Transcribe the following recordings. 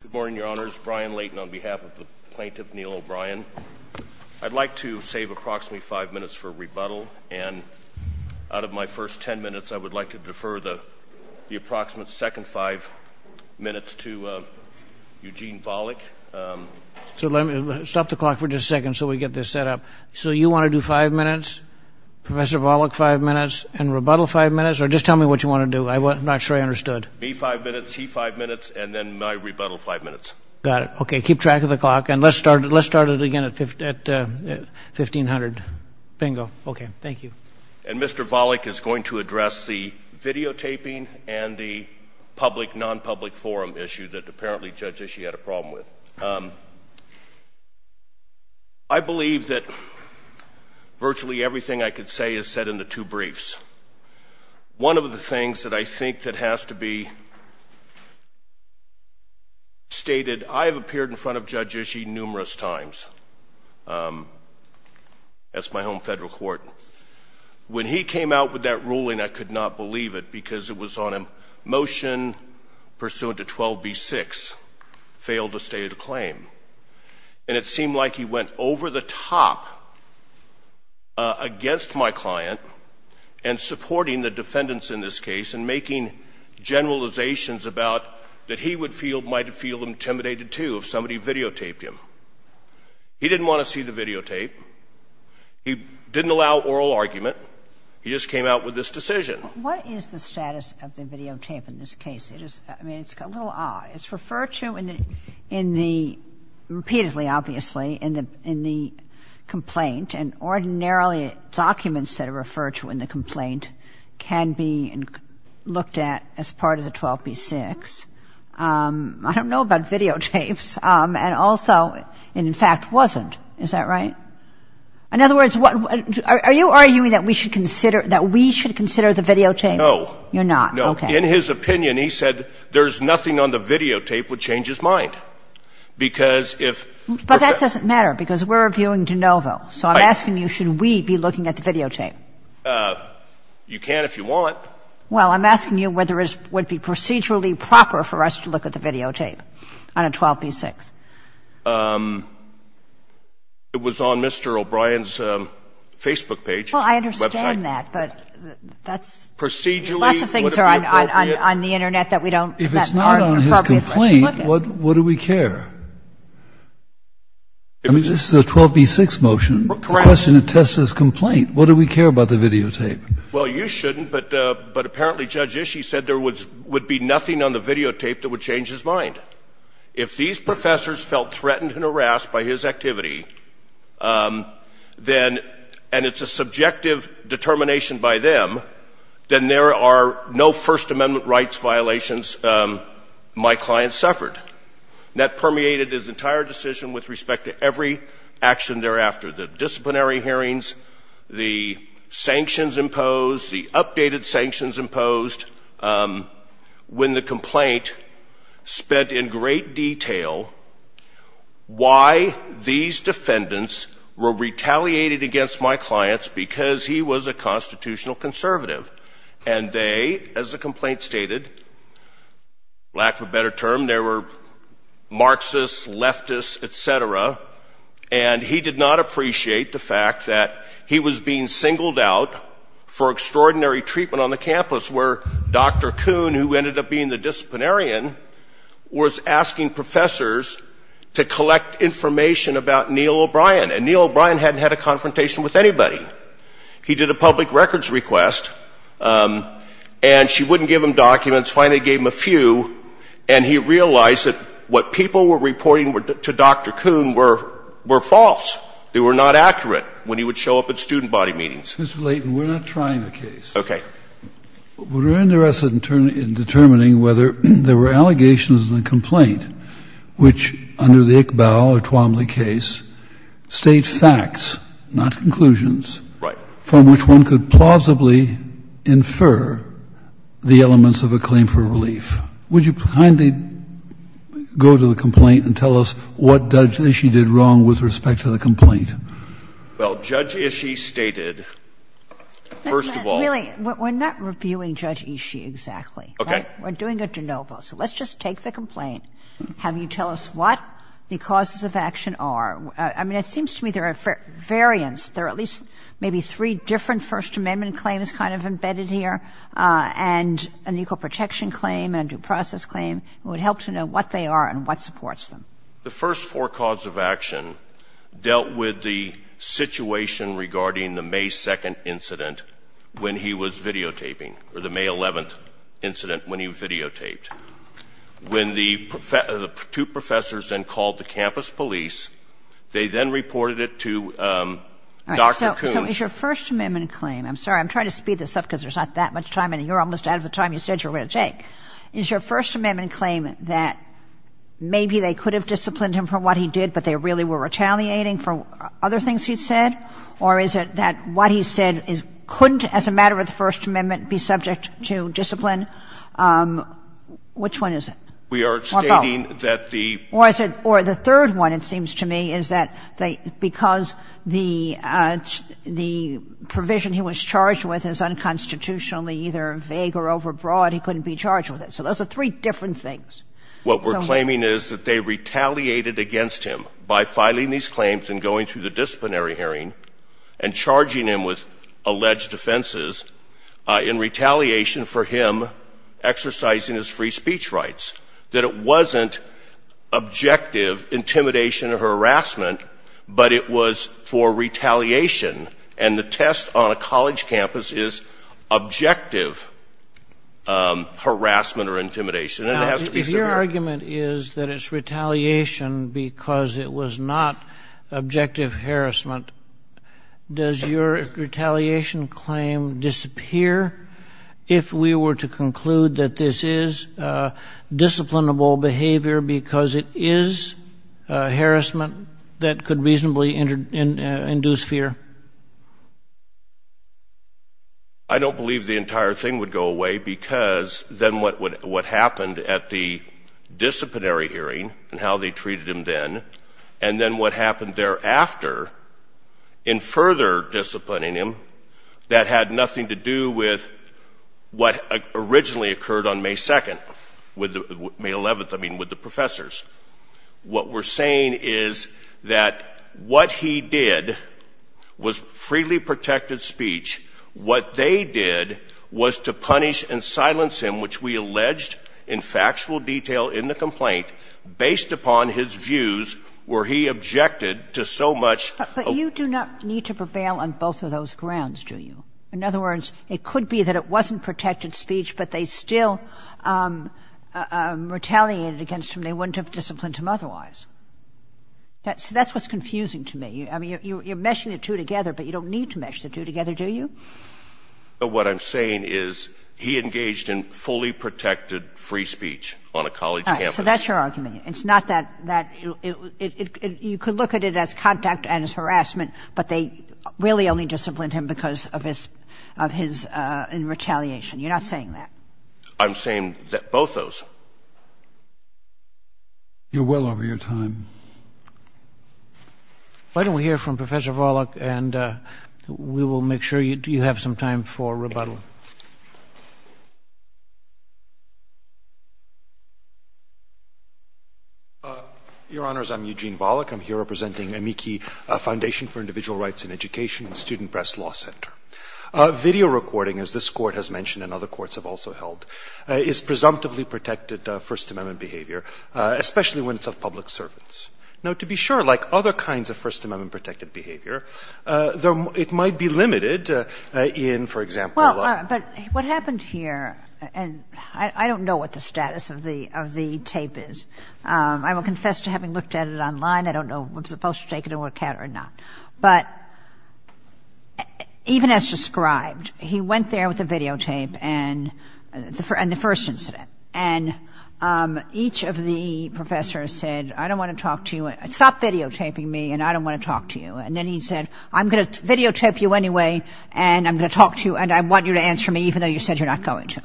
Good morning, Your Honors. Brian Layton on behalf of the Plaintiff, Neil O'Brien. I'd like to save approximately five minutes for rebuttal, and out of my first ten minutes, I would like to defer the approximate second five minutes to Eugene Volokh. So let me – stop the clock for just a second so we get this set up. So you want to do five minutes, Professor Volokh five minutes, and rebuttal five minutes? Or just tell me what you want to do. I'm not sure I understood. Me five minutes, he five minutes, and then my rebuttal five minutes. Got it. Okay. Keep track of the clock, and let's start it again at 1,500. Bingo. Okay. Thank you. And Mr. Volokh is going to address the videotaping and the public-nonpublic forum issue that apparently Judge Ishii had a problem with. I believe that virtually everything I could say is said in the two briefs. One of the things that I think that has to be stated, I have appeared in front of Judge Ishii numerous times as my home Federal court. When he came out with that ruling, I could not believe it because it was on a motion pursuant to 12b-6, failed to state a claim. And it seemed like he went over the top against my client and supporting the defendants in this case and making generalizations about that he would feel, might feel intimidated to if somebody videotaped him. He didn't want to see the videotape. He didn't allow oral argument. He just came out with this decision. What is the status of the videotape in this case? I mean, it's a little odd. It's referred to in the, repeatedly, obviously, in the complaint, and ordinarily documents that are referred to in the complaint can be looked at as part of the 12b-6. I don't know about videotapes. And also, it in fact wasn't. Is that right? In other words, are you arguing that we should consider, that we should consider the videotape? No. You're not. Okay. No. In his opinion, he said there's nothing on the videotape would change his mind. Because if we're going to. But that doesn't matter because we're reviewing de novo. Right. So I'm asking you, should we be looking at the videotape? You can if you want. Well, I'm asking you whether it would be procedurally proper for us to look at the videotape on a 12b-6. It was on Mr. O'Brien's Facebook page, website. Well, I understand that, but that's. Procedurally. Lots of things are on the Internet that we don't. If it's not on his complaint, what do we care? I mean, this is a 12b-6 motion. Correct. The question attests his complaint. What do we care about the videotape? Well, you shouldn't, but apparently Judge Ishii said there would be nothing on the videotape that would change his mind. If these professors felt threatened and harassed by his activity, then, and it's a subjective determination by them, then there are no First Amendment rights violations my client suffered. And that permeated his entire decision with respect to every action thereafter, the disciplinary hearings, the sanctions imposed, the updated sanctions imposed when the complaint spent in great detail why these defendants were retaliated against my clients because he was a constitutional conservative. And they, as the complaint stated, lack of a better term, they were Marxists, leftists, et cetera, and he did not appreciate the fact that he was being singled out for extraordinary treatment on the campus where Dr. Kuhn, who ended up being the disciplinarian, was asking professors to collect information about Neil O'Brien. And Neil O'Brien hadn't had a confrontation with anybody. He did a public records request, and she wouldn't give him documents. Finally gave him a few, and he realized that what people were reporting to Dr. Kuhn were false. They were not accurate when he would show up at student body meetings. Mr. Layton, we're not trying the case. Layton, okay. Kennedy, we're interested in determining whether there were allegations in the complaint which, under the Iqbal or Twomley case, state facts, not conclusions. Layton, right. Kennedy, from which one could plausibly infer the elements of a claim for relief. Would you kindly go to the complaint and tell us what Judge Ishii did wrong with respect to the complaint? Layton, well, Judge Ishii stated, first of all, we're not reviewing Judge Ishii exactly. Okay. We're doing a de novo. So let's just take the complaint. Have you tell us what the causes of action are? I mean, it seems to me there are variants. There are at least maybe three different First Amendment claims kind of embedded here, and an equal protection claim, and a due process claim. It would help to know what they are and what supports them. The first four causes of action dealt with the situation regarding the May 2nd incident when he was videotaping, or the May 11th incident when he videotaped. When the two professors then called the campus police, they then reported it to Dr. Coons. All right. So is your First Amendment claim – I'm sorry. I'm trying to speed this up because there's not that much time, and you're almost out of the time you said you were going to take. Is your First Amendment claim that maybe they could have disciplined him for what he did, but they really were retaliating for other things he said? Or is it that what he said couldn't, as a matter of the First Amendment, be subject to discipline? Which one is it? We are stating that the – Or the third one, it seems to me, is that because the provision he was charged with is unconstitutionally either vague or overbroad, he couldn't be charged with it. So those are three different things. What we're claiming is that they retaliated against him by filing these claims and going through the disciplinary hearing and charging him with alleged offenses in retaliation for him exercising his free speech rights. That it wasn't objective intimidation or harassment, but it was for retaliation. And the test on a college campus is objective harassment or intimidation. And it has to be severe. Your argument is that it's retaliation because it was not objective harassment. Does your retaliation claim disappear if we were to conclude that this is disciplinable behavior because it is harassment that could reasonably induce fear? I don't believe the entire thing would go away, because then what happened at the disciplinary hearing and how they treated him then, and then what happened thereafter in further disciplining him that had nothing to do with what originally occurred on May 2nd, May 11th, I mean, with the professors. What we're saying is that what he did was freely protected speech. What they did was to punish and silence him, which we alleged in factual detail in the complaint, based upon his views, where he objected to so much of the ---- But you do not need to prevail on both of those grounds, do you? In other words, it could be that it wasn't protected speech, but they still retaliated against him. They wouldn't have disciplined him otherwise. So that's what's confusing to me. I mean, you're meshing the two together, but you don't need to mesh the two together, do you? What I'm saying is he engaged in fully protected free speech on a college campus. So that's your argument. It's not that you could look at it as contact and as harassment, but they really only disciplined him because of his retaliation. You're not saying that. I'm saying both those. You're well over your time. Why don't we hear from Professor Volokh, and we will make sure you have some time for rebuttal. Your Honors, I'm Eugene Volokh. I'm here representing AMIKI, Foundation for Individual Rights in Education, Student Press Law Center. Video recording, as this Court has mentioned and other courts have also held, is presumptively protected First Amendment behavior, especially when it's of public servants. Now, to be sure, like other kinds of First Amendment-protected behavior, it might be limited in, for example, law. Well, but what happened here, and I don't know what the status of the tape is. I will confess to having looked at it online. I don't know if I'm supposed to take it and look at it or not. But even as described, he went there with the videotape and the first incident. And each of the professors said, I don't want to talk to you. Stop videotaping me, and I don't want to talk to you. And then he said, I'm going to videotape you anyway, and I'm going to talk to you, and I want you to answer me even though you said you're not going to,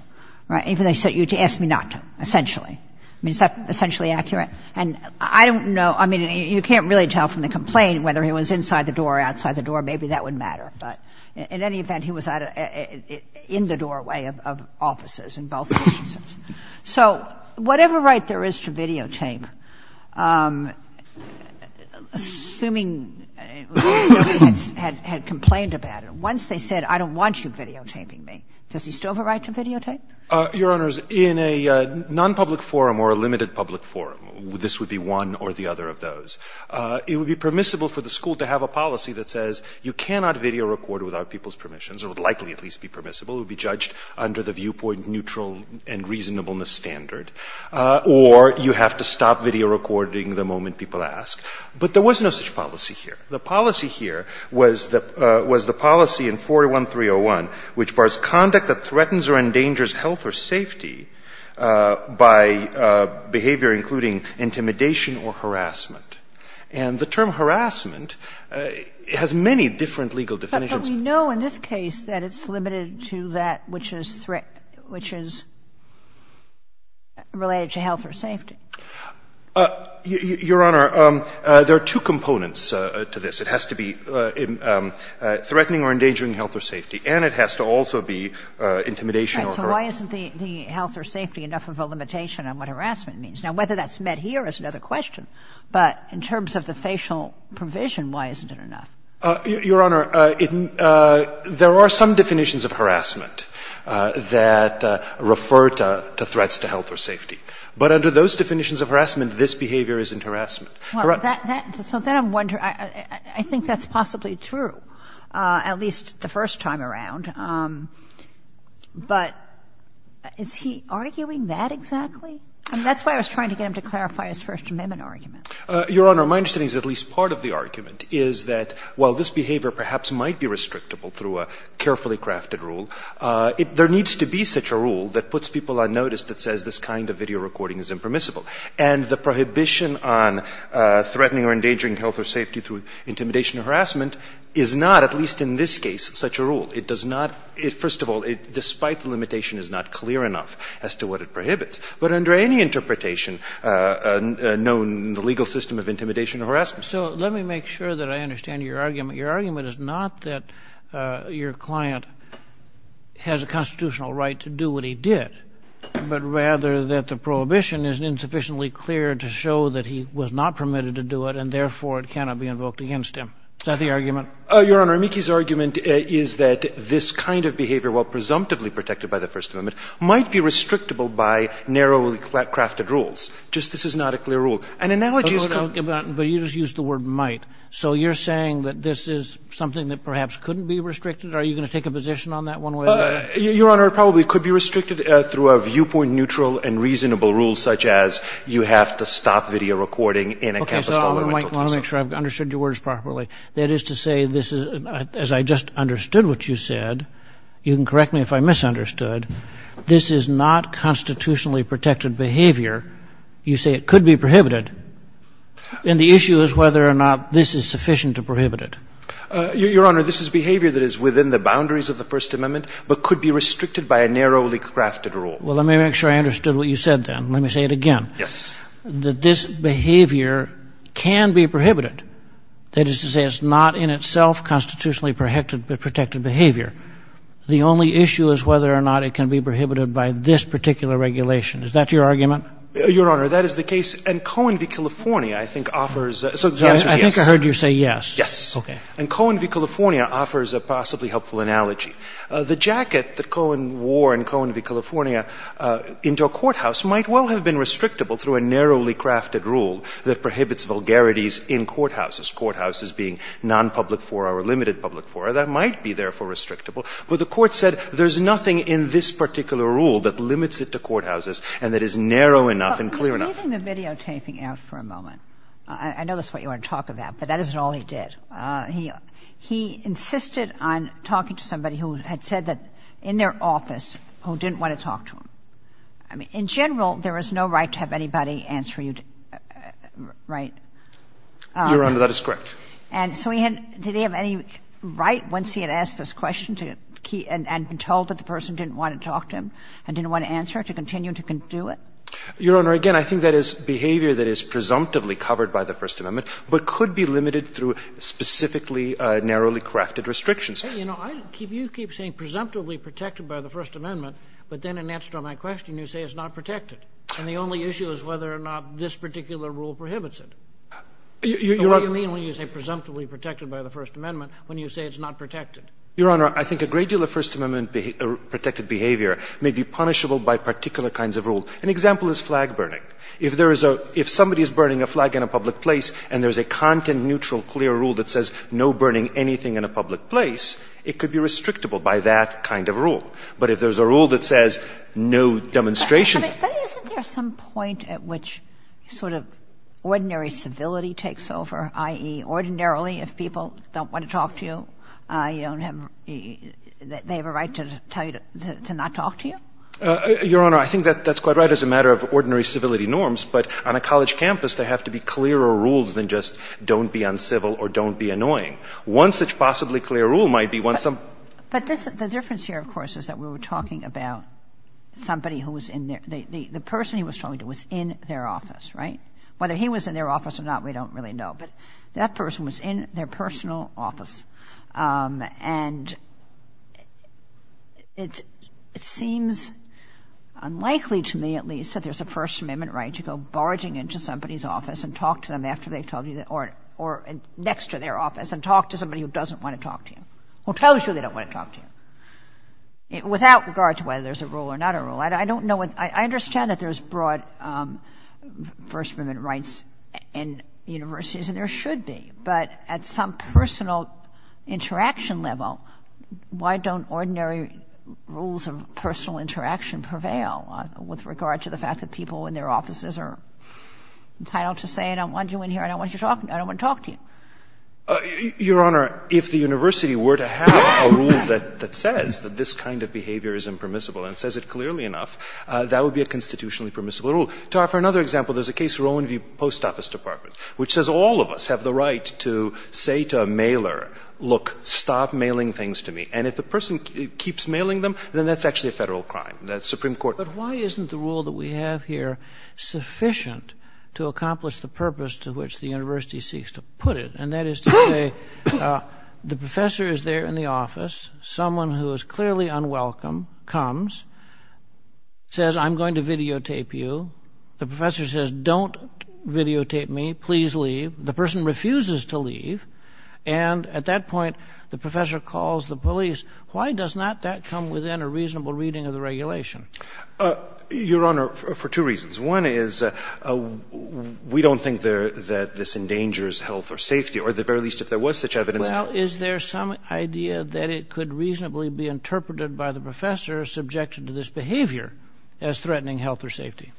right, even though you asked me not to, essentially. I mean, is that essentially accurate? And I don't know. I mean, you can't really tell from the complaint whether he was inside the door or outside the door. Maybe that would matter. But in any event, he was in the doorway of offices in both cases. So whatever right there is to videotape, assuming nobody had complained about it, once they said, I don't want you videotaping me, does he still have a right to videotape? Your Honors, in a nonpublic forum or a limited public forum, this would be one or the other of those, it would be permissible for the school to have a policy that says you cannot video record without people's permissions. It would likely at least be permissible. It would be judged under the viewpoint neutral and reasonableness standard. Or you have to stop video recording the moment people ask. But there was no such policy here. The policy here was the policy in 41301, which bars conduct that threatens or endangers health or safety by behavior including intimidation or harassment. And the term harassment has many different legal definitions. But we know in this case that it's limited to that which is threat, which is related to health or safety. Your Honor, there are two components to this. It has to be threatening or endangering health or safety. And it has to also be intimidation or harassment. So why isn't the health or safety enough of a limitation on what harassment means? Now, whether that's met here is another question. But in terms of the facial provision, why isn't it enough? Your Honor, there are some definitions of harassment that refer to threats to health or safety. But under those definitions of harassment, this behavior isn't harassment. So then I'm wondering, I think that's possibly true, at least the first time around. But is he arguing that exactly? I mean, that's why I was trying to get him to clarify his First Amendment argument. Your Honor, my understanding is at least part of the argument is that while this behavior perhaps might be restrictable through a carefully crafted rule, there needs to be such a rule that puts people on notice that says this kind of video recording is impermissible. And the prohibition on threatening or endangering health or safety through intimidation or harassment is not, at least in this case, such a rule. It does not — first of all, despite the limitation, it is not clear enough as to what it prohibits. But under any interpretation known in the legal system of intimidation or harassment — So let me make sure that I understand your argument. Your argument is not that your client has a constitutional right to do what he did, but rather that the prohibition is insufficiently clear to show that he was not permitted to do it, and therefore it cannot be invoked against him. Is that the argument? Your Honor, Mickey's argument is that this kind of behavior, while presumptively protected by the First Amendment, might be restrictable by narrowly crafted rules. Just this is not a clear rule. An analogy is clear. But you just used the word might. So you're saying that this is something that perhaps couldn't be restricted? Are you going to take a position on that one way or the other? Your Honor, it probably could be restricted through a viewpoint-neutral and reasonable do so. I want to make sure I've understood your words properly. That is to say, as I just understood what you said, you can correct me if I misunderstood, this is not constitutionally protected behavior. You say it could be prohibited. And the issue is whether or not this is sufficient to prohibit it. Your Honor, this is behavior that is within the boundaries of the First Amendment but could be restricted by a narrowly crafted rule. Well, let me make sure I understood what you said then. Let me say it again. Yes. That this behavior can be prohibited. That is to say it's not in itself constitutionally protected behavior. The only issue is whether or not it can be prohibited by this particular regulation. Is that your argument? Your Honor, that is the case. And Cohen v. California, I think, offers the answer is yes. I think I heard you say yes. Yes. Okay. And Cohen v. California offers a possibly helpful analogy. The jacket that Cohen wore in Cohen v. California into a courthouse might well have been restrictable through a narrowly crafted rule that prohibits vulgarities in courthouses, courthouses being nonpublic fora or limited public fora. That might be, therefore, restrictable. But the Court said there's nothing in this particular rule that limits it to courthouses and that is narrow enough and clear enough. But leave the videotaping out for a moment. I know that's what you want to talk about, but that isn't all he did. He insisted on talking to somebody who had said that in their office who didn't want to talk to him. In general, there is no right to have anybody answer you, right? Your Honor, that is correct. And so he had — did he have any right once he had asked this question to — and been told that the person didn't want to talk to him and didn't want to answer to continue to do it? Your Honor, again, I think that is behavior that is presumptively covered by the First Amendment but could be limited through specifically narrowly crafted restrictions. You know, you keep saying presumptively protected by the First Amendment, but then when you answer my question, you say it's not protected. And the only issue is whether or not this particular rule prohibits it. What do you mean when you say presumptively protected by the First Amendment when you say it's not protected? Your Honor, I think a great deal of First Amendment protected behavior may be punishable by particular kinds of rule. An example is flag burning. If there is a — if somebody is burning a flag in a public place and there is a content neutral clear rule that says no burning anything in a public place, it could be restrictable by that kind of rule. But if there is a rule that says no demonstration — But isn't there some point at which sort of ordinary civility takes over, i.e., ordinarily if people don't want to talk to you, you don't have — they have a right to tell you to not talk to you? Your Honor, I think that's quite right as a matter of ordinary civility norms. But on a college campus, there have to be clearer rules than just don't be uncivil or don't be annoying. One such possibly clear rule might be once some — But the difference here, of course, is that we were talking about somebody who was in their — the person he was talking to was in their office, right? Whether he was in their office or not, we don't really know. But that person was in their personal office. And it seems unlikely to me, at least, that there's a First Amendment right to go barging into somebody's office and talk to them after they've told you — or next to their office and talk to somebody who doesn't want to talk to you, who tells you they don't want to talk to you, without regard to whether there's a rule or not a rule. I don't know what — I understand that there's broad First Amendment rights in universities, and there should be. But at some personal interaction level, why don't ordinary rules of personal interaction prevail with regard to the fact that people in their offices are entitled to say, I don't want you in here, I don't want you to talk — I don't want to talk to you? Your Honor, if the university were to have a rule that says that this kind of behavior is impermissible and says it clearly enough, that would be a constitutionally permissible rule. To offer another example, there's a case, Rowan View Post Office Department, which says all of us have the right to say to a mailer, look, stop mailing things to me. And if the person keeps mailing them, then that's actually a Federal crime. That's Supreme Court — But why isn't the rule that we have here sufficient to accomplish the purpose to which the university seeks to put it? And that is to say, the professor is there in the office. Someone who is clearly unwelcome comes, says, I'm going to videotape you. The professor says, don't videotape me. Please leave. The person refuses to leave. And at that point, the professor calls the police. Why does not that come within a reasonable reading of the regulation? Your Honor, for two reasons. One is we don't think that this endangers health or safety, or at the very least if there was such evidence. Well, is there some idea that it could reasonably be interpreted by the professor subjected to this behavior as threatening health or safety?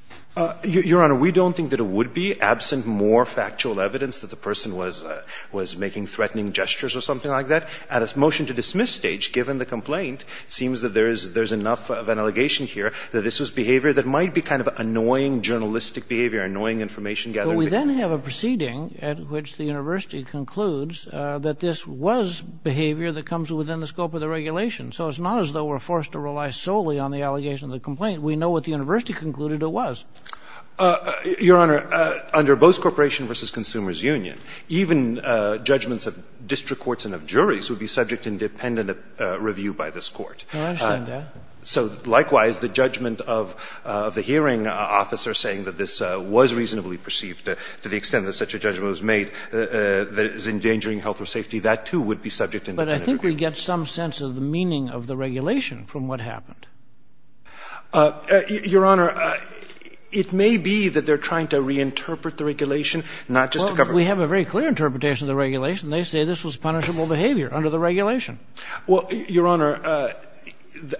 Your Honor, we don't think that it would be, absent more factual evidence that the person was making threatening gestures or something like that. At a motion-to-dismiss stage, given the complaint, it seems that there is enough of an allegation here that this was behavior that might be kind of annoying journalistic behavior, annoying information-gathering behavior. But we then have a proceeding at which the university concludes that this was behavior that comes within the scope of the regulation. So it's not as though we're forced to rely solely on the allegation of the complaint. We know what the university concluded it was. Your Honor, under both Corporation v. Consumers Union, even judgments of district courts and of juries would be subject to independent review by this court. I understand that. So, likewise, the judgment of the hearing officer saying that this was reasonably perceived to the extent that such a judgment was made that it was endangering health or safety, that, too, would be subject to independent review. But I think we get some sense of the meaning of the regulation from what happened. Your Honor, it may be that they're trying to reinterpret the regulation, not just to cover it. Well, we have a very clear interpretation of the regulation. They say this was punishable behavior under the regulation. Well, Your Honor,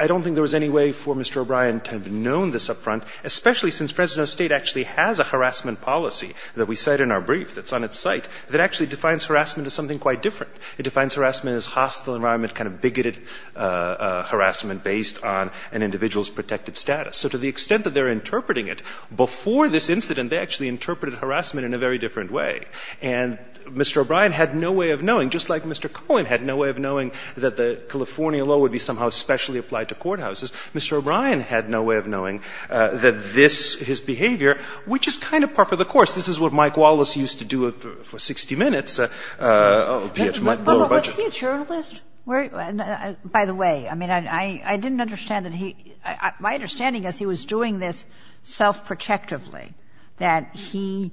I don't think there was any way for Mr. O'Brien to have known this up front, especially since Fresno State actually has a harassment policy that we cite in our brief that's on its site that actually defines harassment as something quite different. It defines harassment as hostile environment, kind of bigoted harassment based on an individual's protected status. So to the extent that they're interpreting it, before this incident they actually interpreted harassment in a very different way. And Mr. O'Brien had no way of knowing, just like Mr. Cohen had no way of knowing that the California law would be somehow specially applied to courthouses, Mr. O'Brien had no way of knowing that this, his behavior, which is kind of par for the course. This is what Mike Wallace used to do for 60 Minutes, albeit much lower budget. But was he a journalist? By the way, I mean, I didn't understand that he – my understanding is he was doing this self-protectively, that he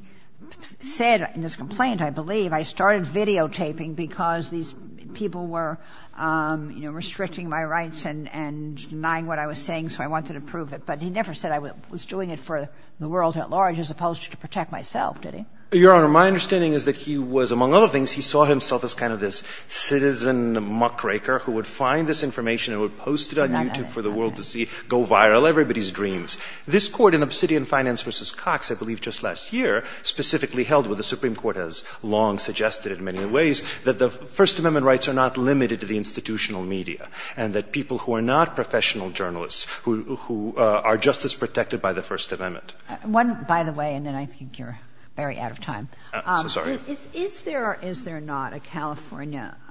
said in his complaint, I believe, I started videotaping because these people were, you know, restricting my rights and denying what I was saying, so I wanted to prove it. But he never said I was doing it for the world at large as opposed to to protect myself, did he? Your Honor, my understanding is that he was, among other things, he saw himself as kind of this citizen muckraker who would find this information and would post it on YouTube for the world to see, go viral, everybody's dreams. This Court in Obsidian Finance v. Cox, I believe just last year, specifically held what the Supreme Court has long suggested in many ways, that the First Amendment rights are not limited to the institutional media, and that people who are not professional journalists who are just as protected by the First Amendment. One, by the way, and then I think you're very out of time. I'm so sorry. Is there or is there not a California –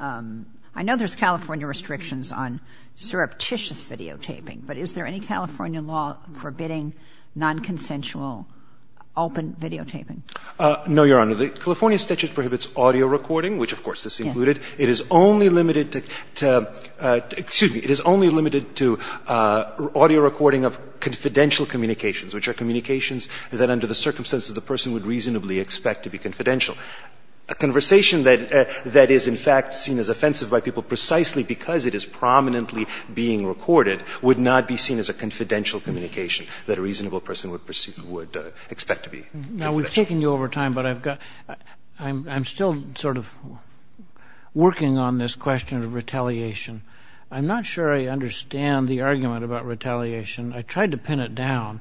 I know there's California restrictions on surreptitious videotaping, but is there any California law forbidding nonconsensual open videotaping? No, Your Honor. The California statute prohibits audio recording, which of course this included. It is only limited to – excuse me. It is only limited to audio recording of confidential communications, which are communications that under the circumstances the person would reasonably expect to be confidential. A conversation that is in fact seen as offensive by people precisely because it is prominently being recorded would not be seen as a confidential communication that a reasonable person would expect to be confidential. Now, we've taken you over time, but I've got – I'm still sort of working on this question of retaliation. I'm not sure I understand the argument about retaliation. I tried to pin it down.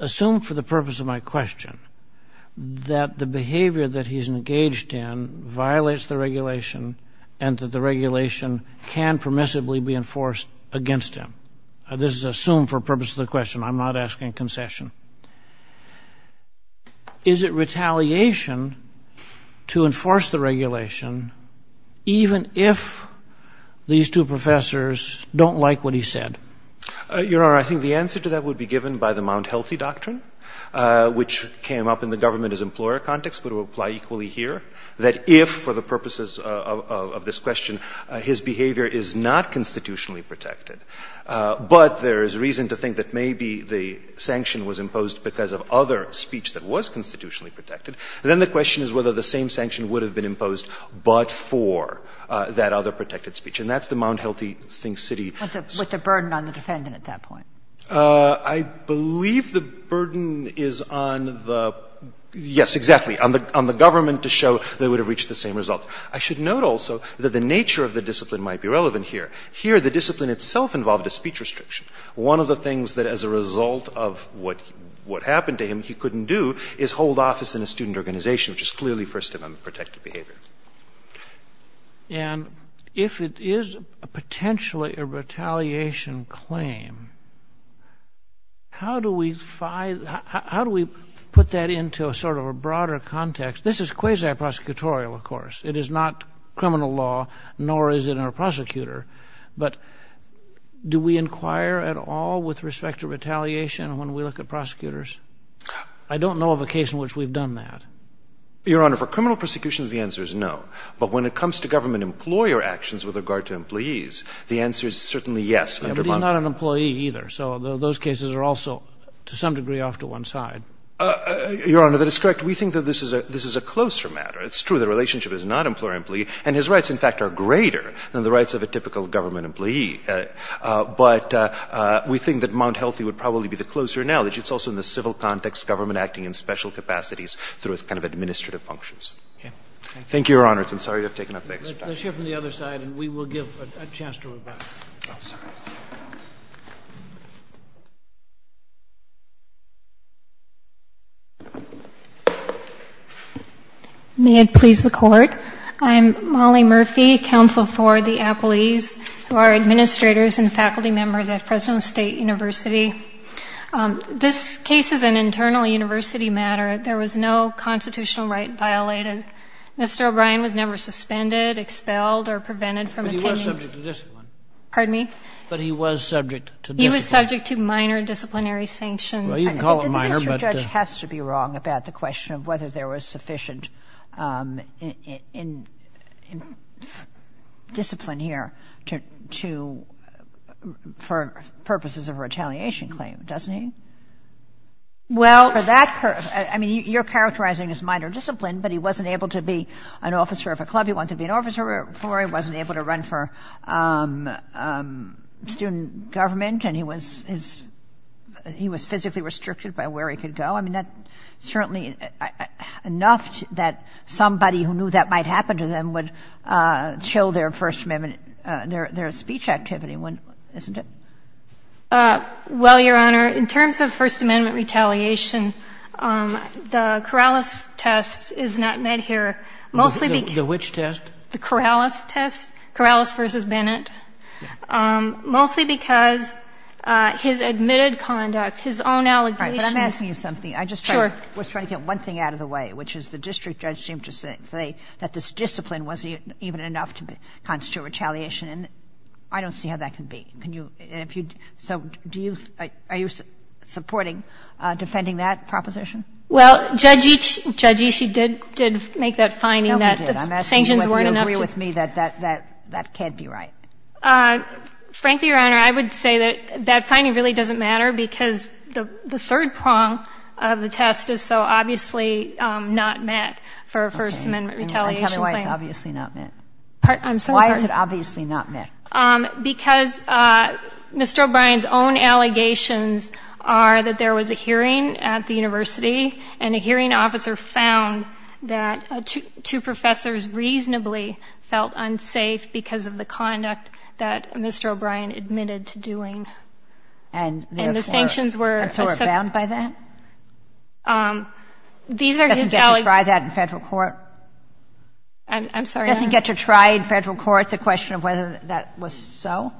Assume for the purpose of my question that the behavior that he's engaged in violates the regulation and that the regulation can permissibly be enforced against him. This is assume for the purpose of the question. I'm not asking concession. Is it retaliation to enforce the regulation even if these two professors don't like what he said? Your Honor, I think the answer to that would be given by the Mount Healthy Doctrine, which came up in the government as employer context, but will apply equally here, that if for the purposes of this question his behavior is not constitutionally protected, but there is reason to think that maybe the sanction was imposed because of other speech that was constitutionally protected, then the question is whether the same sanction would have been imposed but for that other protected speech. And that's the Mount Healthy City. With the burden on the defendant at that point. I believe the burden is on the – yes, exactly, on the government to show they would have reached the same result. I should note also that the nature of the discipline might be relevant here. Here the discipline itself involved a speech restriction. One of the things that as a result of what happened to him he couldn't do is hold office in a student organization, which is clearly First Amendment protected behavior. And if it is potentially a retaliation claim, how do we find – how do we put that into a sort of a broader context? This is quasi-prosecutorial, of course. It is not criminal law, nor is it in our prosecutor. But do we inquire at all with respect to retaliation when we look at prosecutors? I don't know of a case in which we've done that. Your Honor, for criminal prosecutions the answer is no. But when it comes to government employer actions with regard to employees, the answer is certainly yes. It is not an employee either. So those cases are also to some degree off to one side. Your Honor, that is correct. We think that this is a closer matter. It's true the relationship is not employer-employee, and his rights, in fact, are greater than the rights of a typical government employee. But we think that Mount Healthy would probably be the closer analogy. It's also in the civil context, government acting in special capacities through its kind of administrative functions. Thank you, Your Honor. I'm sorry to have taken up the extra time. Let's hear from the other side, and we will give a chance to revise. I'm sorry. May it please the Court? I'm Molly Murphy, counsel for the appellees who are administrators and faculty members at Fresno State University. This case is an internal university matter. There was no constitutional right violated. Mr. O'Brien was never suspended, expelled, or prevented from attending. Pardon me? Yes, he was subject to discipline. But he was subject to discipline. He was subject to minor disciplinary sanctions. Well, you can call it minor, but... I think the district judge has to be wrong about the question of whether there was sufficient discipline here for purposes of a retaliation claim, doesn't he? Well... I mean, you're characterizing as minor discipline, but he wasn't able to be an officer of a club he wanted to be an officer for. He wasn't able to run for student government, and he was physically restricted by where he could go. I mean, that's certainly enough that somebody who knew that might happen to them would chill their First Amendment, their speech activity, isn't it? Well, Your Honor, in terms of First Amendment retaliation, the Corrales test is not met here, mostly because... The which test? The Corrales test, Corrales v. Bennett, mostly because his admitted conduct, his own allegations... All right. But I'm asking you something. Sure. I just was trying to get one thing out of the way, which is the district judge seemed to say that this discipline wasn't even enough to constitute retaliation, and I don't see how that can be. Can you, if you, so do you, are you supporting defending that proposition? Well, Judge Ishii did make that finding that... No, we did. I'm asking you whether you agree with me that that can't be right. Frankly, Your Honor, I would say that that finding really doesn't matter because the third prong of the test is so obviously not met for a First Amendment retaliation claim. Okay. And Kelly White's obviously not met. I'm sorry? Why is it obviously not met? Because Mr. O'Brien's own allegations are that there was a hearing at the university and a hearing officer found that two professors reasonably felt unsafe because of the conduct that Mr. O'Brien admitted to doing. And therefore... And the sanctions were... And so were bound by that? These are his allegations... Doesn't get to try that in federal court? I'm sorry, Your Honor? Doesn't get to try in federal court the question of whether that was so?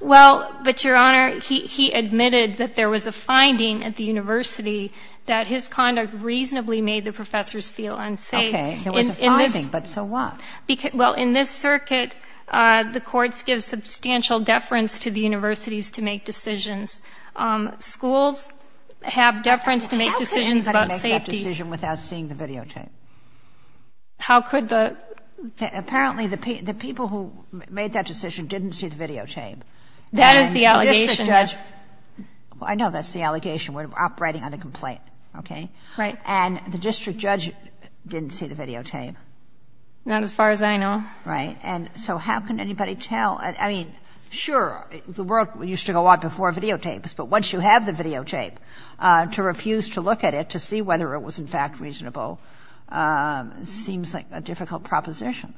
Well, but, Your Honor, he admitted that there was a finding at the university that his conduct reasonably made the professors feel unsafe. Okay. There was a finding, but so what? Well, in this circuit, the courts give substantial deference to the universities to make decisions. Schools have deference to make decisions about safety. How could he have made that decision without seeing the videotape? How could the... Apparently, the people who made that decision didn't see the videotape. That is the allegation. And the district judge... Well, I know that's the allegation. We're operating on a complaint, okay? Right. And the district judge didn't see the videotape. Not as far as I know. Right. And so how can anybody tell? I mean, sure, the world used to go out before videotapes, but once you have the videotape, to refuse to look at it to see whether it was in fact reasonable seems like a difficult proposition.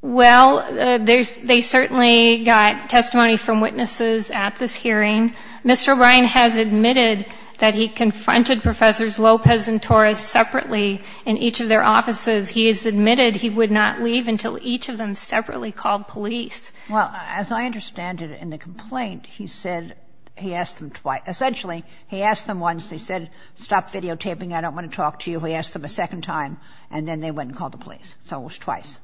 Well, they certainly got testimony from witnesses at this hearing. Mr. O'Brien has admitted that he confronted Professors Lopez and Torres separately in each of their offices. He has admitted he would not leave until each of them separately called police. Well, as I understand it in the complaint, he said he asked them twice. Essentially, he asked them once. They said, stop videotaping. I don't want to talk to you. He asked them a second time, and then they went and called the police. So it was twice.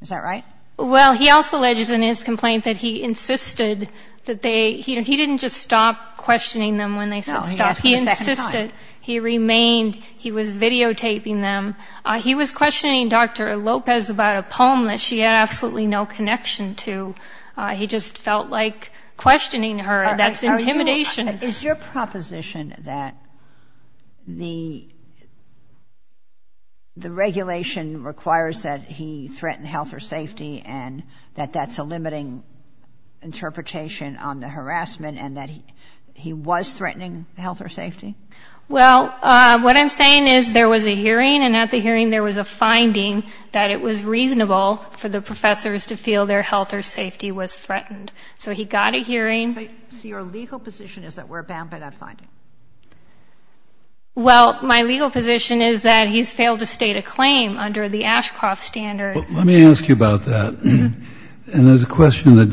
Is that right? Well, he also alleges in his complaint that he insisted that they, you know, he didn't just stop questioning them when they said stop. No, he asked them a second time. He insisted. He remained. He was videotaping them. He was questioning Dr. Lopez about a poem that she had absolutely no connection to. He just felt like questioning her. That's intimidation. Is your proposition that the regulation requires that he threaten health or safety and that that's a limiting interpretation on the harassment and that he was threatening health or safety? Well, what I'm saying is there was a hearing, and at the hearing there was a finding that it was reasonable for the professors to feel their health or safety was threatened. So he got a hearing. So your legal position is that we're bound by that finding? Well, my legal position is that he's failed to state a claim under the Ashcroft standard. Let me ask you about that. And there's a question that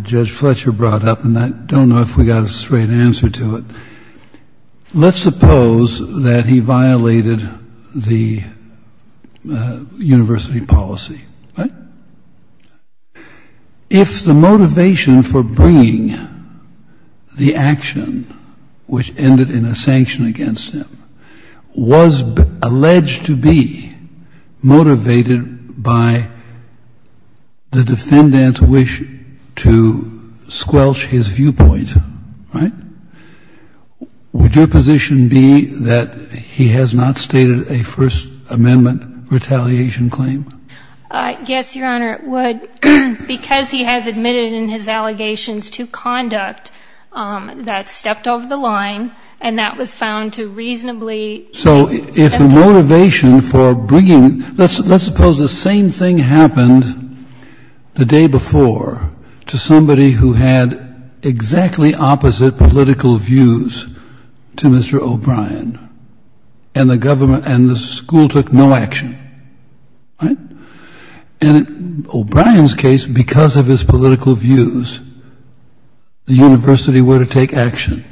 Judge Fletcher brought up, and I don't know if we got a straight answer to it. Let's suppose that he violated the university policy. Right? If the motivation for bringing the action, which ended in a sanction against him, was alleged to be motivated by the defendant's wish to squelch his viewpoint, right, would your position be that he has not stated a First Amendment retaliation claim? Yes, Your Honor, it would. Because he has admitted in his allegations to conduct that stepped over the line, and that was found to reasonably. So if the motivation for bringing, let's suppose the same thing happened the day before to somebody who had exactly opposite political views to Mr. O'Brien, and the school took no action, right? In O'Brien's case, because of his political views, the university were to take action.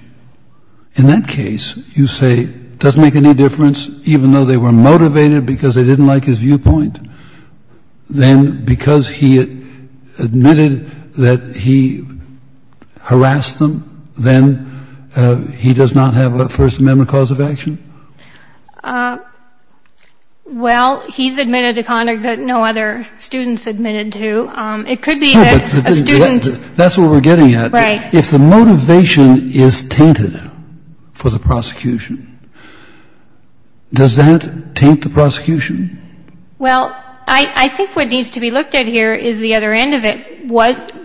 In that case, you say it doesn't make any difference, even though they were motivated because they didn't like his viewpoint, then because he admitted that he harassed them, then he does not have a First Amendment cause of action? Well, he's admitted to conduct that no other student's admitted to. It could be that a student. That's what we're getting at. Right. If the motivation is tainted for the prosecution, does that taint the prosecution? Well, I think what needs to be looked at here is the other end of it.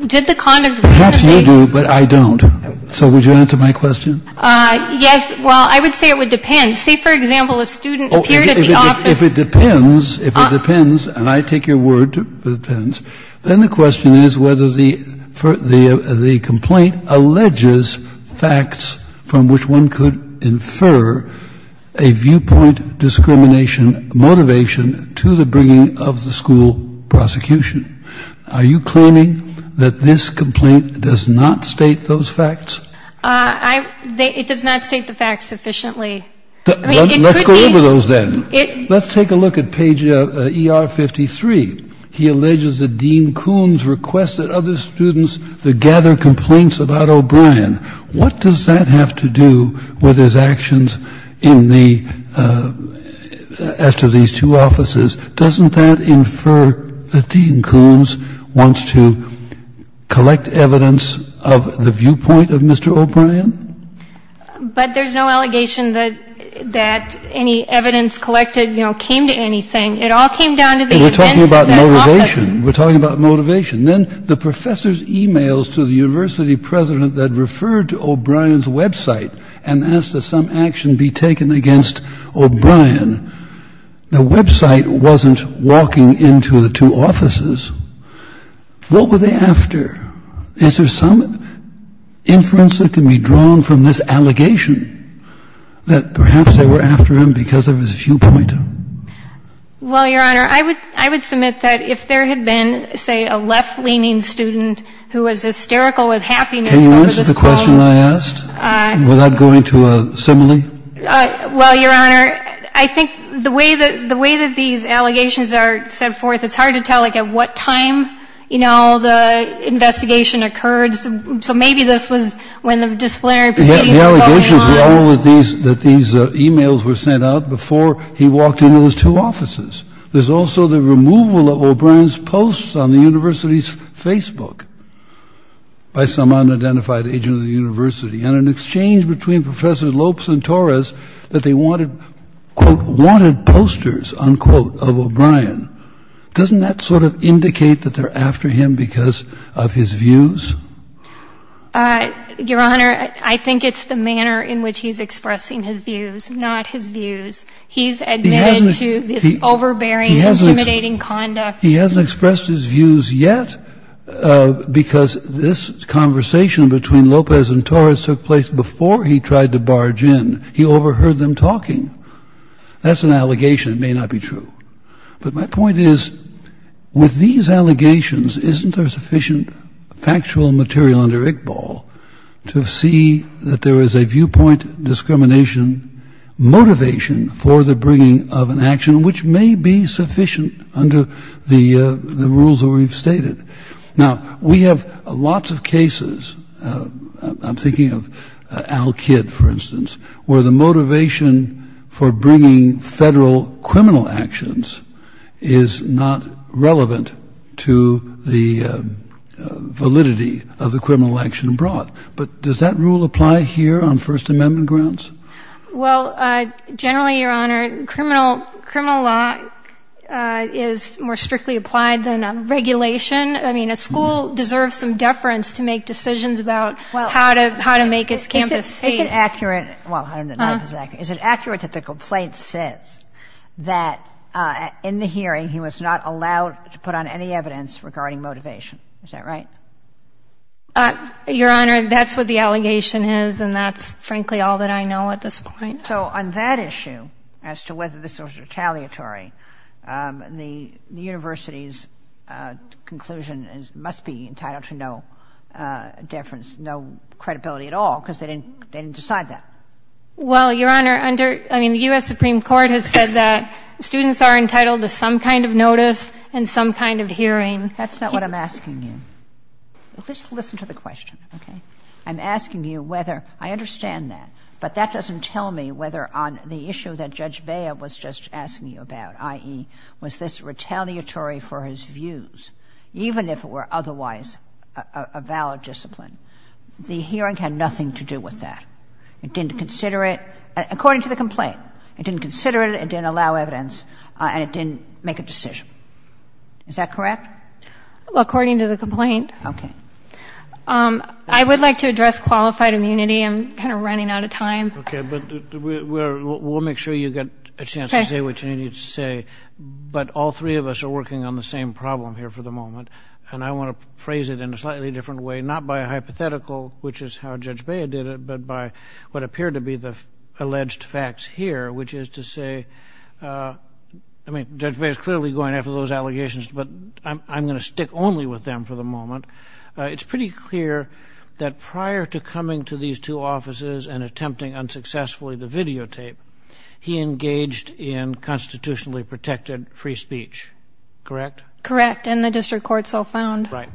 Did the conduct of the case? Perhaps you do, but I don't. So would you answer my question? Yes. Well, I would say it would depend. Say, for example, a student appeared at the office. If it depends, if it depends, and I take your word that it depends, then the question is whether the complaint alleges facts from which one could have a connection to the bringing of the school prosecution. Are you claiming that this complaint does not state those facts? It does not state the facts sufficiently. Let's go over those then. Let's take a look at page ER 53. He alleges that Dean Kuhn's requested other students to gather complaints about O'Brien. What does that have to do with his actions in the as to these two offices? Doesn't that infer that Dean Kuhn's wants to collect evidence of the viewpoint of Mr. O'Brien? But there's no allegation that any evidence collected, you know, came to anything. It all came down to the events of that office. We're talking about motivation. We're talking about motivation. Then the professor's e-mails to the university president that referred to O'Brien's website and asked that some action be taken against O'Brien. The website wasn't walking into the two offices. What were they after? Is there some inference that can be drawn from this allegation that perhaps they were after him because of his viewpoint? Well, Your Honor, I would submit that if there had been, say, a left-leaning student who was hysterical with happiness over this phone call. Can you answer the question I asked without going to a simile? Well, Your Honor, I think the way that these allegations are set forth, it's hard to tell, like, at what time, you know, the investigation occurred. The allegations were all that these e-mails were sent out before he walked into those two offices. There's also the removal of O'Brien's posts on the university's Facebook by some unidentified agent of the university. And an exchange between Professors Lopes and Torres that they wanted, quote, wanted posters, unquote, of O'Brien. Doesn't that sort of indicate that they're after him because of his views? Your Honor, I think it's the manner in which he's expressing his views, not his views. He's admitted to this overbearing, intimidating conduct. He hasn't expressed his views yet because this conversation between Lopes and Torres took place before he tried to barge in. He overheard them talking. That's an allegation. It may not be true. But my point is, with these allegations, isn't there sufficient factual material under Iqbal to see that there is a viewpoint, discrimination, motivation for the bringing of an action which may be sufficient under the rules that we've stated? Now, we have lots of cases. I'm thinking of Al Kidd, for instance, where the motivation for bringing federal criminal actions is not relevant to the validity of the criminal action brought. But does that rule apply here on First Amendment grounds? Well, generally, Your Honor, criminal law is more strictly applied than regulation. I mean, a school deserves some deference to make decisions about how to make its campus safe. Is it accurate? Well, I don't know if it's accurate. Is it accurate that the complaint says that in the hearing he was not allowed to put on any evidence regarding motivation? Is that right? Your Honor, that's what the allegation is, and that's, frankly, all that I know at this point. So on that issue, as to whether this was retaliatory, the university's conclusion must be entitled to no deference, no credibility at all, because they didn't decide that. Well, Your Honor, under the U.S. Supreme Court has said that students are entitled to some kind of notice and some kind of hearing. That's not what I'm asking you. Just listen to the question, okay? I'm asking you whether — I understand that, but that doesn't tell me whether on the issue that Judge Bea was just asking you about, i.e., was this retaliatory for his views, even if it were otherwise a valid discipline. The hearing had nothing to do with that. It didn't consider it, according to the complaint. It didn't consider it, it didn't allow evidence, and it didn't make a decision. Is that correct? Well, according to the complaint. Okay. I would like to address qualified immunity. I'm kind of running out of time. Okay. But we'll make sure you get a chance to say what you need to say. Okay. But all three of us are working on the same problem here for the moment, and I want to phrase it in a slightly different way, not by a hypothetical, which is how Judge Bea did it, but by what appeared to be the alleged facts here, which is to say — I mean, Judge Bea is clearly going after those allegations, but I'm going to stick only with them for the moment. It's pretty clear that prior to coming to these two offices and attempting unsuccessfully the videotape, he engaged in constitutionally protected free speech. Correct? Correct. And the district court's all found. Right.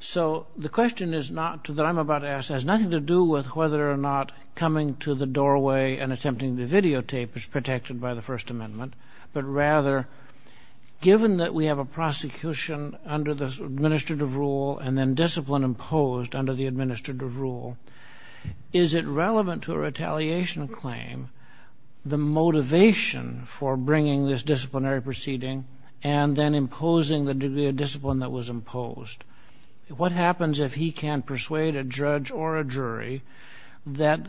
So the question that I'm about to ask has nothing to do with whether or not coming to the doorway and attempting the videotape is protected by the First Amendment, but rather, given that we have a prosecution under the administrative rule and then discipline imposed under the administrative rule, is it relevant to a retaliation claim the motivation for bringing this disciplinary proceeding and then imposing the degree of discipline that was imposed? What happens if he can persuade a judge or a jury that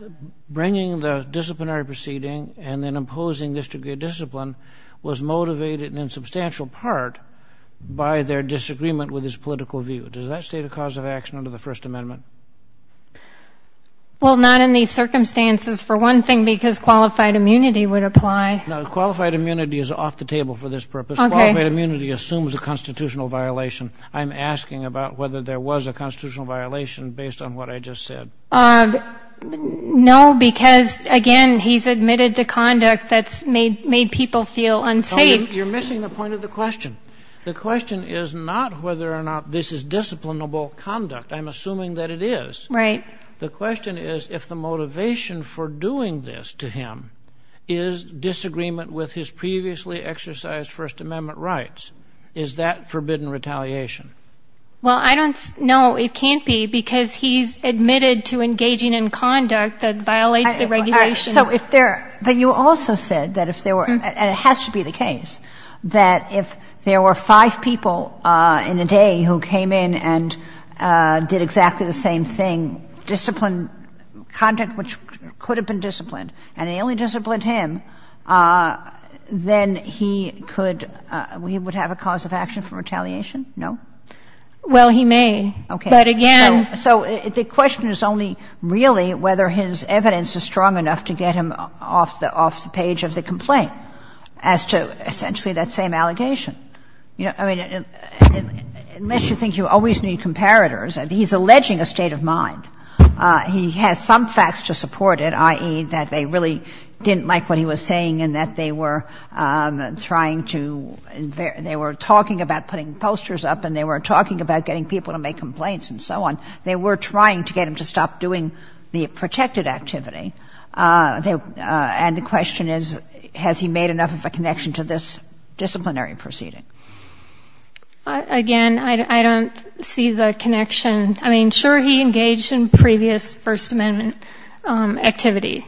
bringing the disciplinary proceeding and then imposing this degree of discipline was motivated in substantial part by their disagreement with his political view? Does that state a cause of action under the First Amendment? Well, not in these circumstances, for one thing, because qualified immunity would apply. No, qualified immunity is off the table for this purpose. Okay. Qualified immunity assumes a constitutional violation. I'm asking about whether there was a constitutional violation based on what I just said. No, because, again, he's admitted to conduct that's made people feel unsafe. You're missing the point of the question. The question is not whether or not this is disciplinable conduct. I'm assuming that it is. Right. The question is if the motivation for doing this to him is disagreement with his previously exercised First Amendment rights. Is that forbidden retaliation? Well, I don't know. It can't be because he's admitted to engaging in conduct that violates the regulation. So if there are you also said that if there were, and it has to be the case, that if there were five people in a day who came in and did exactly the same thing, disciplined conduct which could have been disciplined, and they only disciplined him, then he could, he would have a cause of action for retaliation? No? Well, he may. Okay. But again. So the question is only really whether his evidence is strong enough to get him off the page of the complaint as to essentially that same allegation. You know, I mean, unless you think you always need comparators, he's alleging a state of mind. He has some facts to support it, i.e., that they really didn't like what he was saying and that they were trying to, they were talking about putting posters up and they were talking about getting people to make complaints and so on. They were trying to get him to stop doing the protected activity. And the question is, has he made enough of a connection to this disciplinary proceeding? Again, I don't see the connection. I mean, sure, he engaged in previous First Amendment activity.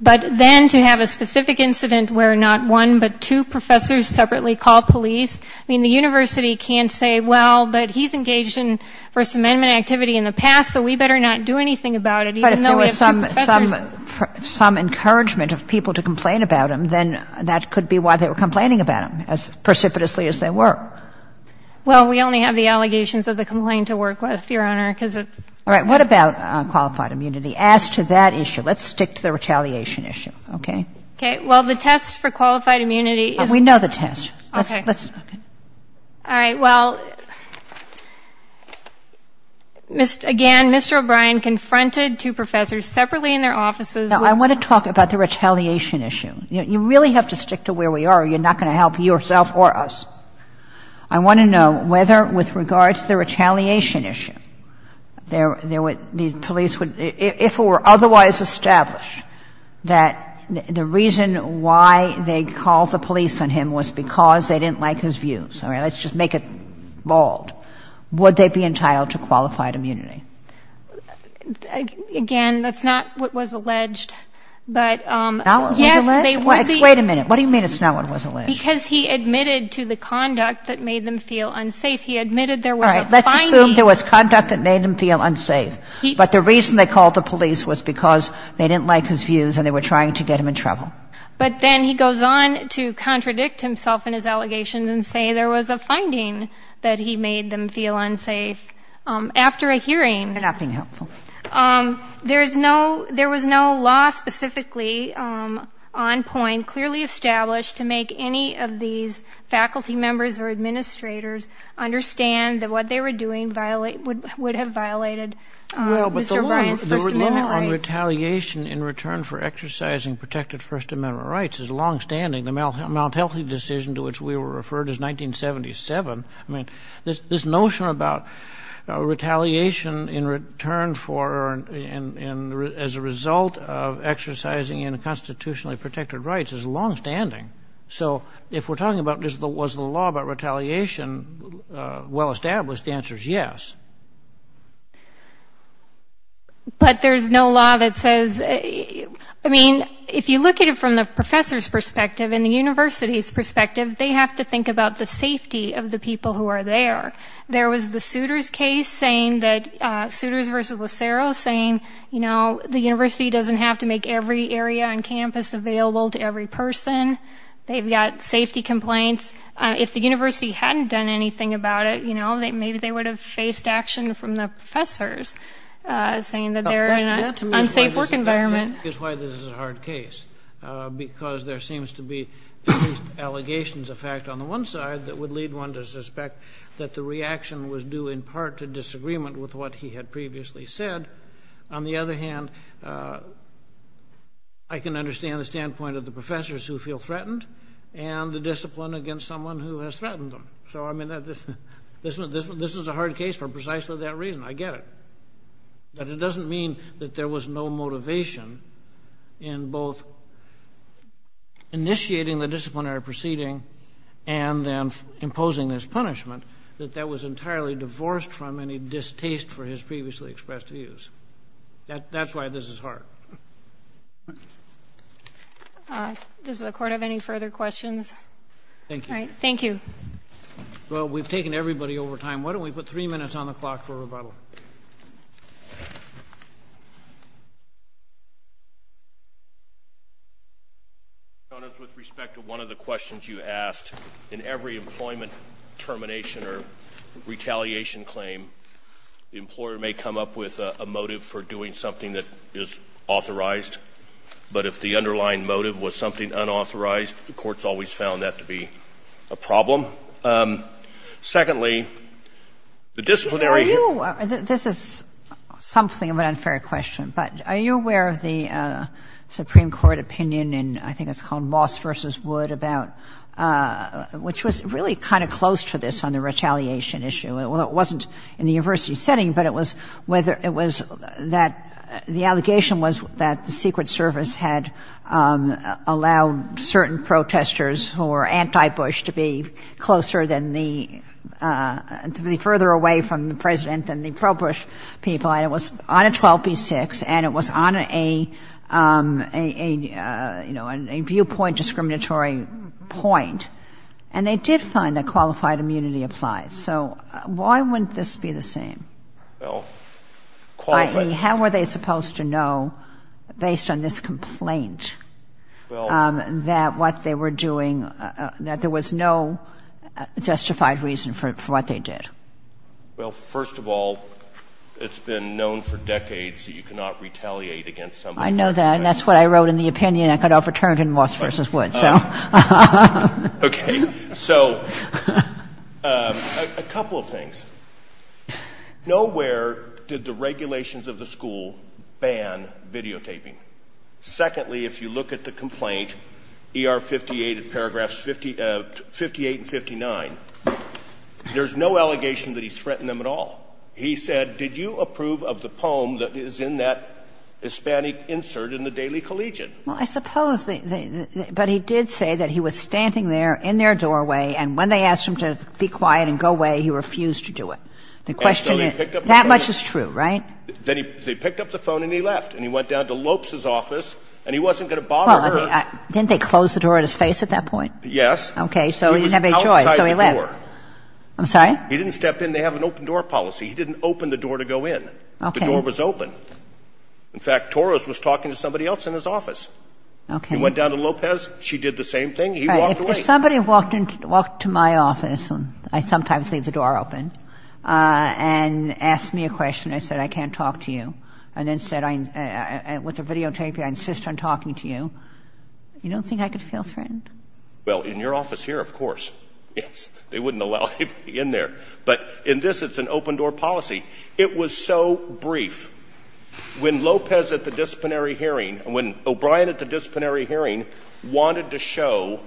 But then to have a specific incident where not one but two professors separately call police, I mean, the university can say, well, but he's engaged in First Amendment activity in the past, so we better not do anything about it, even though we have two professors. But if there was some encouragement of people to complain about him, then that could be why they were complaining about him, as precipitously as they were. Well, we only have the allegations of the complaint to work with, Your Honor, because it's... All right. What about qualified immunity? As to that issue, let's stick to the retaliation issue, okay? Okay. Well, the test for qualified immunity is... We know the test. Okay. All right. Well, again, Mr. O'Brien confronted two professors separately in their offices with... Now, I want to talk about the retaliation issue. You really have to stick to where we are, or you're not going to help yourself or us. I want to know whether, with regards to the retaliation issue, the police would — if it were otherwise established that the reason why they called the police on him was because they didn't like his views — all right, let's just make it bald — would they be entitled to qualified immunity? Again, that's not what was alleged, but... Not what was alleged? Yes, they would be... Wait a minute. What do you mean it's not what was alleged? Because he admitted to the conduct that made them feel unsafe. He admitted there was a fine... All right. Let's assume there was conduct that made them feel unsafe. But the reason they called the police was because they didn't like his views and they were trying to get him in trouble. But then he goes on to contradict himself in his allegations and say there was a finding that he made them feel unsafe. After a hearing... They're not being helpful. There was no law specifically on point, clearly established, to make any of these faculty members or administrators understand that what they were doing would have violated Mr. Bryant's First Amendment rights. The law on retaliation in return for exercising protected First Amendment rights is longstanding. The Mount Healthy decision to which we were referred is 1977. I mean, this notion about retaliation in return for or as a result of exercising unconstitutionally protected rights is longstanding. So if we're talking about was the law about retaliation well established, the answer is yes. But there's no law that says... I mean, if you look at it from the professor's perspective and the university's perspective, they have to think about the safety of the people who are there. There was the Souters case saying that... Souters versus Lucero saying, you know, the university doesn't have to make every area on campus available to every person. They've got safety complaints. If the university hadn't done anything about it, you know, maybe they would have faced action from the professors saying that they're in an unsafe work environment. That is why this is a hard case because there seems to be allegations of fact on the one side that would lead one to suspect that the reaction was due in part to disagreement with what he had previously said. On the other hand, I can understand the standpoint of the professors who feel threatened and the discipline against someone who has threatened them. So, I mean, this is a hard case for precisely that reason. I get it. But it doesn't mean that there was no motivation in both initiating the disciplinary proceeding and then imposing this punishment that that was entirely divorced from any distaste for his previously expressed views. That's why this is hard. Does the Court have any further questions? Thank you. All right. Thank you. Well, we've taken everybody over time. Why don't we put three minutes on the clock for rebuttal? With respect to one of the questions you asked, in every employment termination or retaliation claim, the employer may come up with a motive for doing something that is authorized, but if the underlying motive was something unauthorized, the Court's always found that to be a problem. Secondly, the disciplinary ---- Are you ---- this is something of an unfair question, but are you aware of the Supreme Court opinion in I think it's called Moss v. Wood about ---- which was really kind of close to this on the retaliation issue. It wasn't in the university setting, but it was whether ---- it was that the allegation was that the Secret Service had allowed certain protesters who were anti-Bush to be closer than the ---- to be further away from the President than the pro-Bush people, and it was on a 12b-6, and it was on a, you know, a viewpoint discriminatory point. And they did find that qualified immunity applied. So why wouldn't this be the same? Well, qualified ---- Well, based on this complaint, that what they were doing, that there was no justified reason for what they did. Well, first of all, it's been known for decades that you cannot retaliate against somebody ---- I know that, and that's what I wrote in the opinion. I could overturn it in Moss v. Wood, so. Okay. So a couple of things. Nowhere did the regulations of the school ban videotaping. Secondly, if you look at the complaint, E.R. 58, paragraphs 58 and 59, there's no allegation that he's threatened them at all. He said, did you approve of the poem that is in that Hispanic insert in the Daily Collegiate? Well, I suppose they ---- but he did say that he was standing there in their doorway and when they asked him to be quiet and go away, he refused to do it. The question is ---- And so he picked up the phone. That much is true, right? They picked up the phone and he left. And he went down to Lopes's office and he wasn't going to bother her. Well, didn't they close the door on his face at that point? Yes. Okay. So he didn't have any choice. He was outside the door. I'm sorry? He didn't step in. They have an open-door policy. He didn't open the door to go in. Okay. The door was open. In fact, Torres was talking to somebody else in his office. Okay. He went down to Lopez. She did the same thing. He walked away. If somebody walked into my office, I sometimes leave the door open, and asked me a question, I said, I can't talk to you, and then said with a videotape I insist on talking to you, you don't think I could feel threatened? Well, in your office here, of course. Yes. They wouldn't allow anybody in there. But in this, it's an open-door policy. It was so brief. When Lopez at the disciplinary hearing, when O'Brien at the disciplinary hearing wanted to show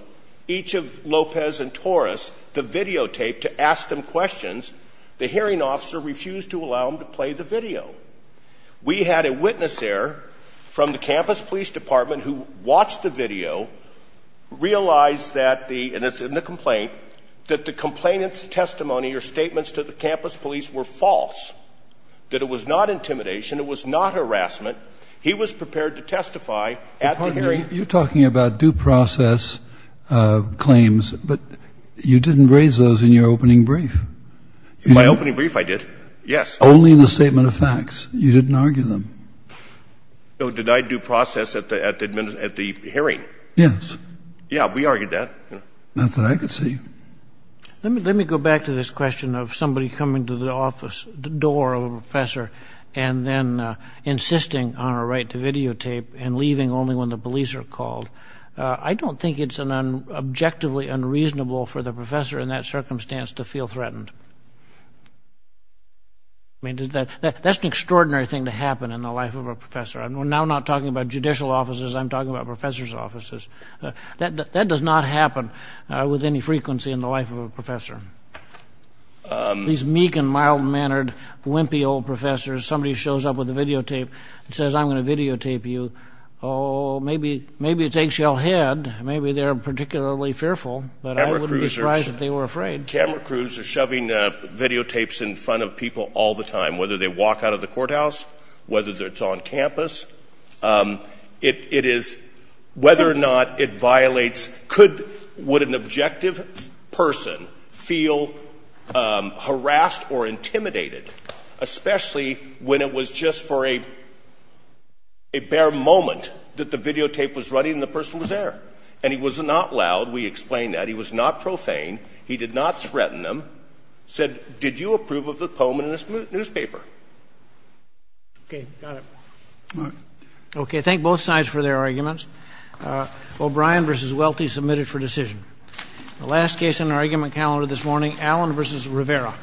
each of Lopez and Torres the videotape to ask them questions, the hearing officer refused to allow them to play the video. We had a witness there from the campus police department who watched the video, realized that the, and it's in the complaint, that the complainant's testimony or statements to the campus police were false, that it was not intimidation, it was not harassment. He was prepared to testify at the hearing. You're talking about due process claims, but you didn't raise those in your opening brief. In my opening brief I did, yes. Only in the statement of facts. You didn't argue them. No, did I due process at the hearing? Yes. Yeah, we argued that. Not that I could see. Let me go back to this question of somebody coming to the office, the door of a professor, and then insisting on a right to videotape and leaving only when the police are called. I don't think it's objectively unreasonable for the professor in that circumstance to feel threatened. I mean, that's an extraordinary thing to happen in the life of a professor. We're now not talking about judicial offices, I'm talking about professors' offices. That does not happen with any frequency in the life of a professor. These meek and mild-mannered, wimpy old professors, somebody shows up with a videotape and says, I'm going to videotape you, oh, maybe it's eggshell head, maybe they're particularly fearful, but I wouldn't be surprised if they were afraid. Camera crews are shoving videotapes in front of people all the time, whether they walk out of the courthouse, whether it's on campus. It is whether or not it violates, would an objective person feel harassed or intimidated, especially when it was just for a bare moment that the videotape was running and the person was there? And he was not loud. We explained that. He was not profane. He did not threaten them. He said, did you approve of the poem in this newspaper? Okay, got it. Okay, thank both sides for their arguments. O'Brien versus Welty submitted for decision. The last case on our argument calendar this morning, Allen versus Rivera.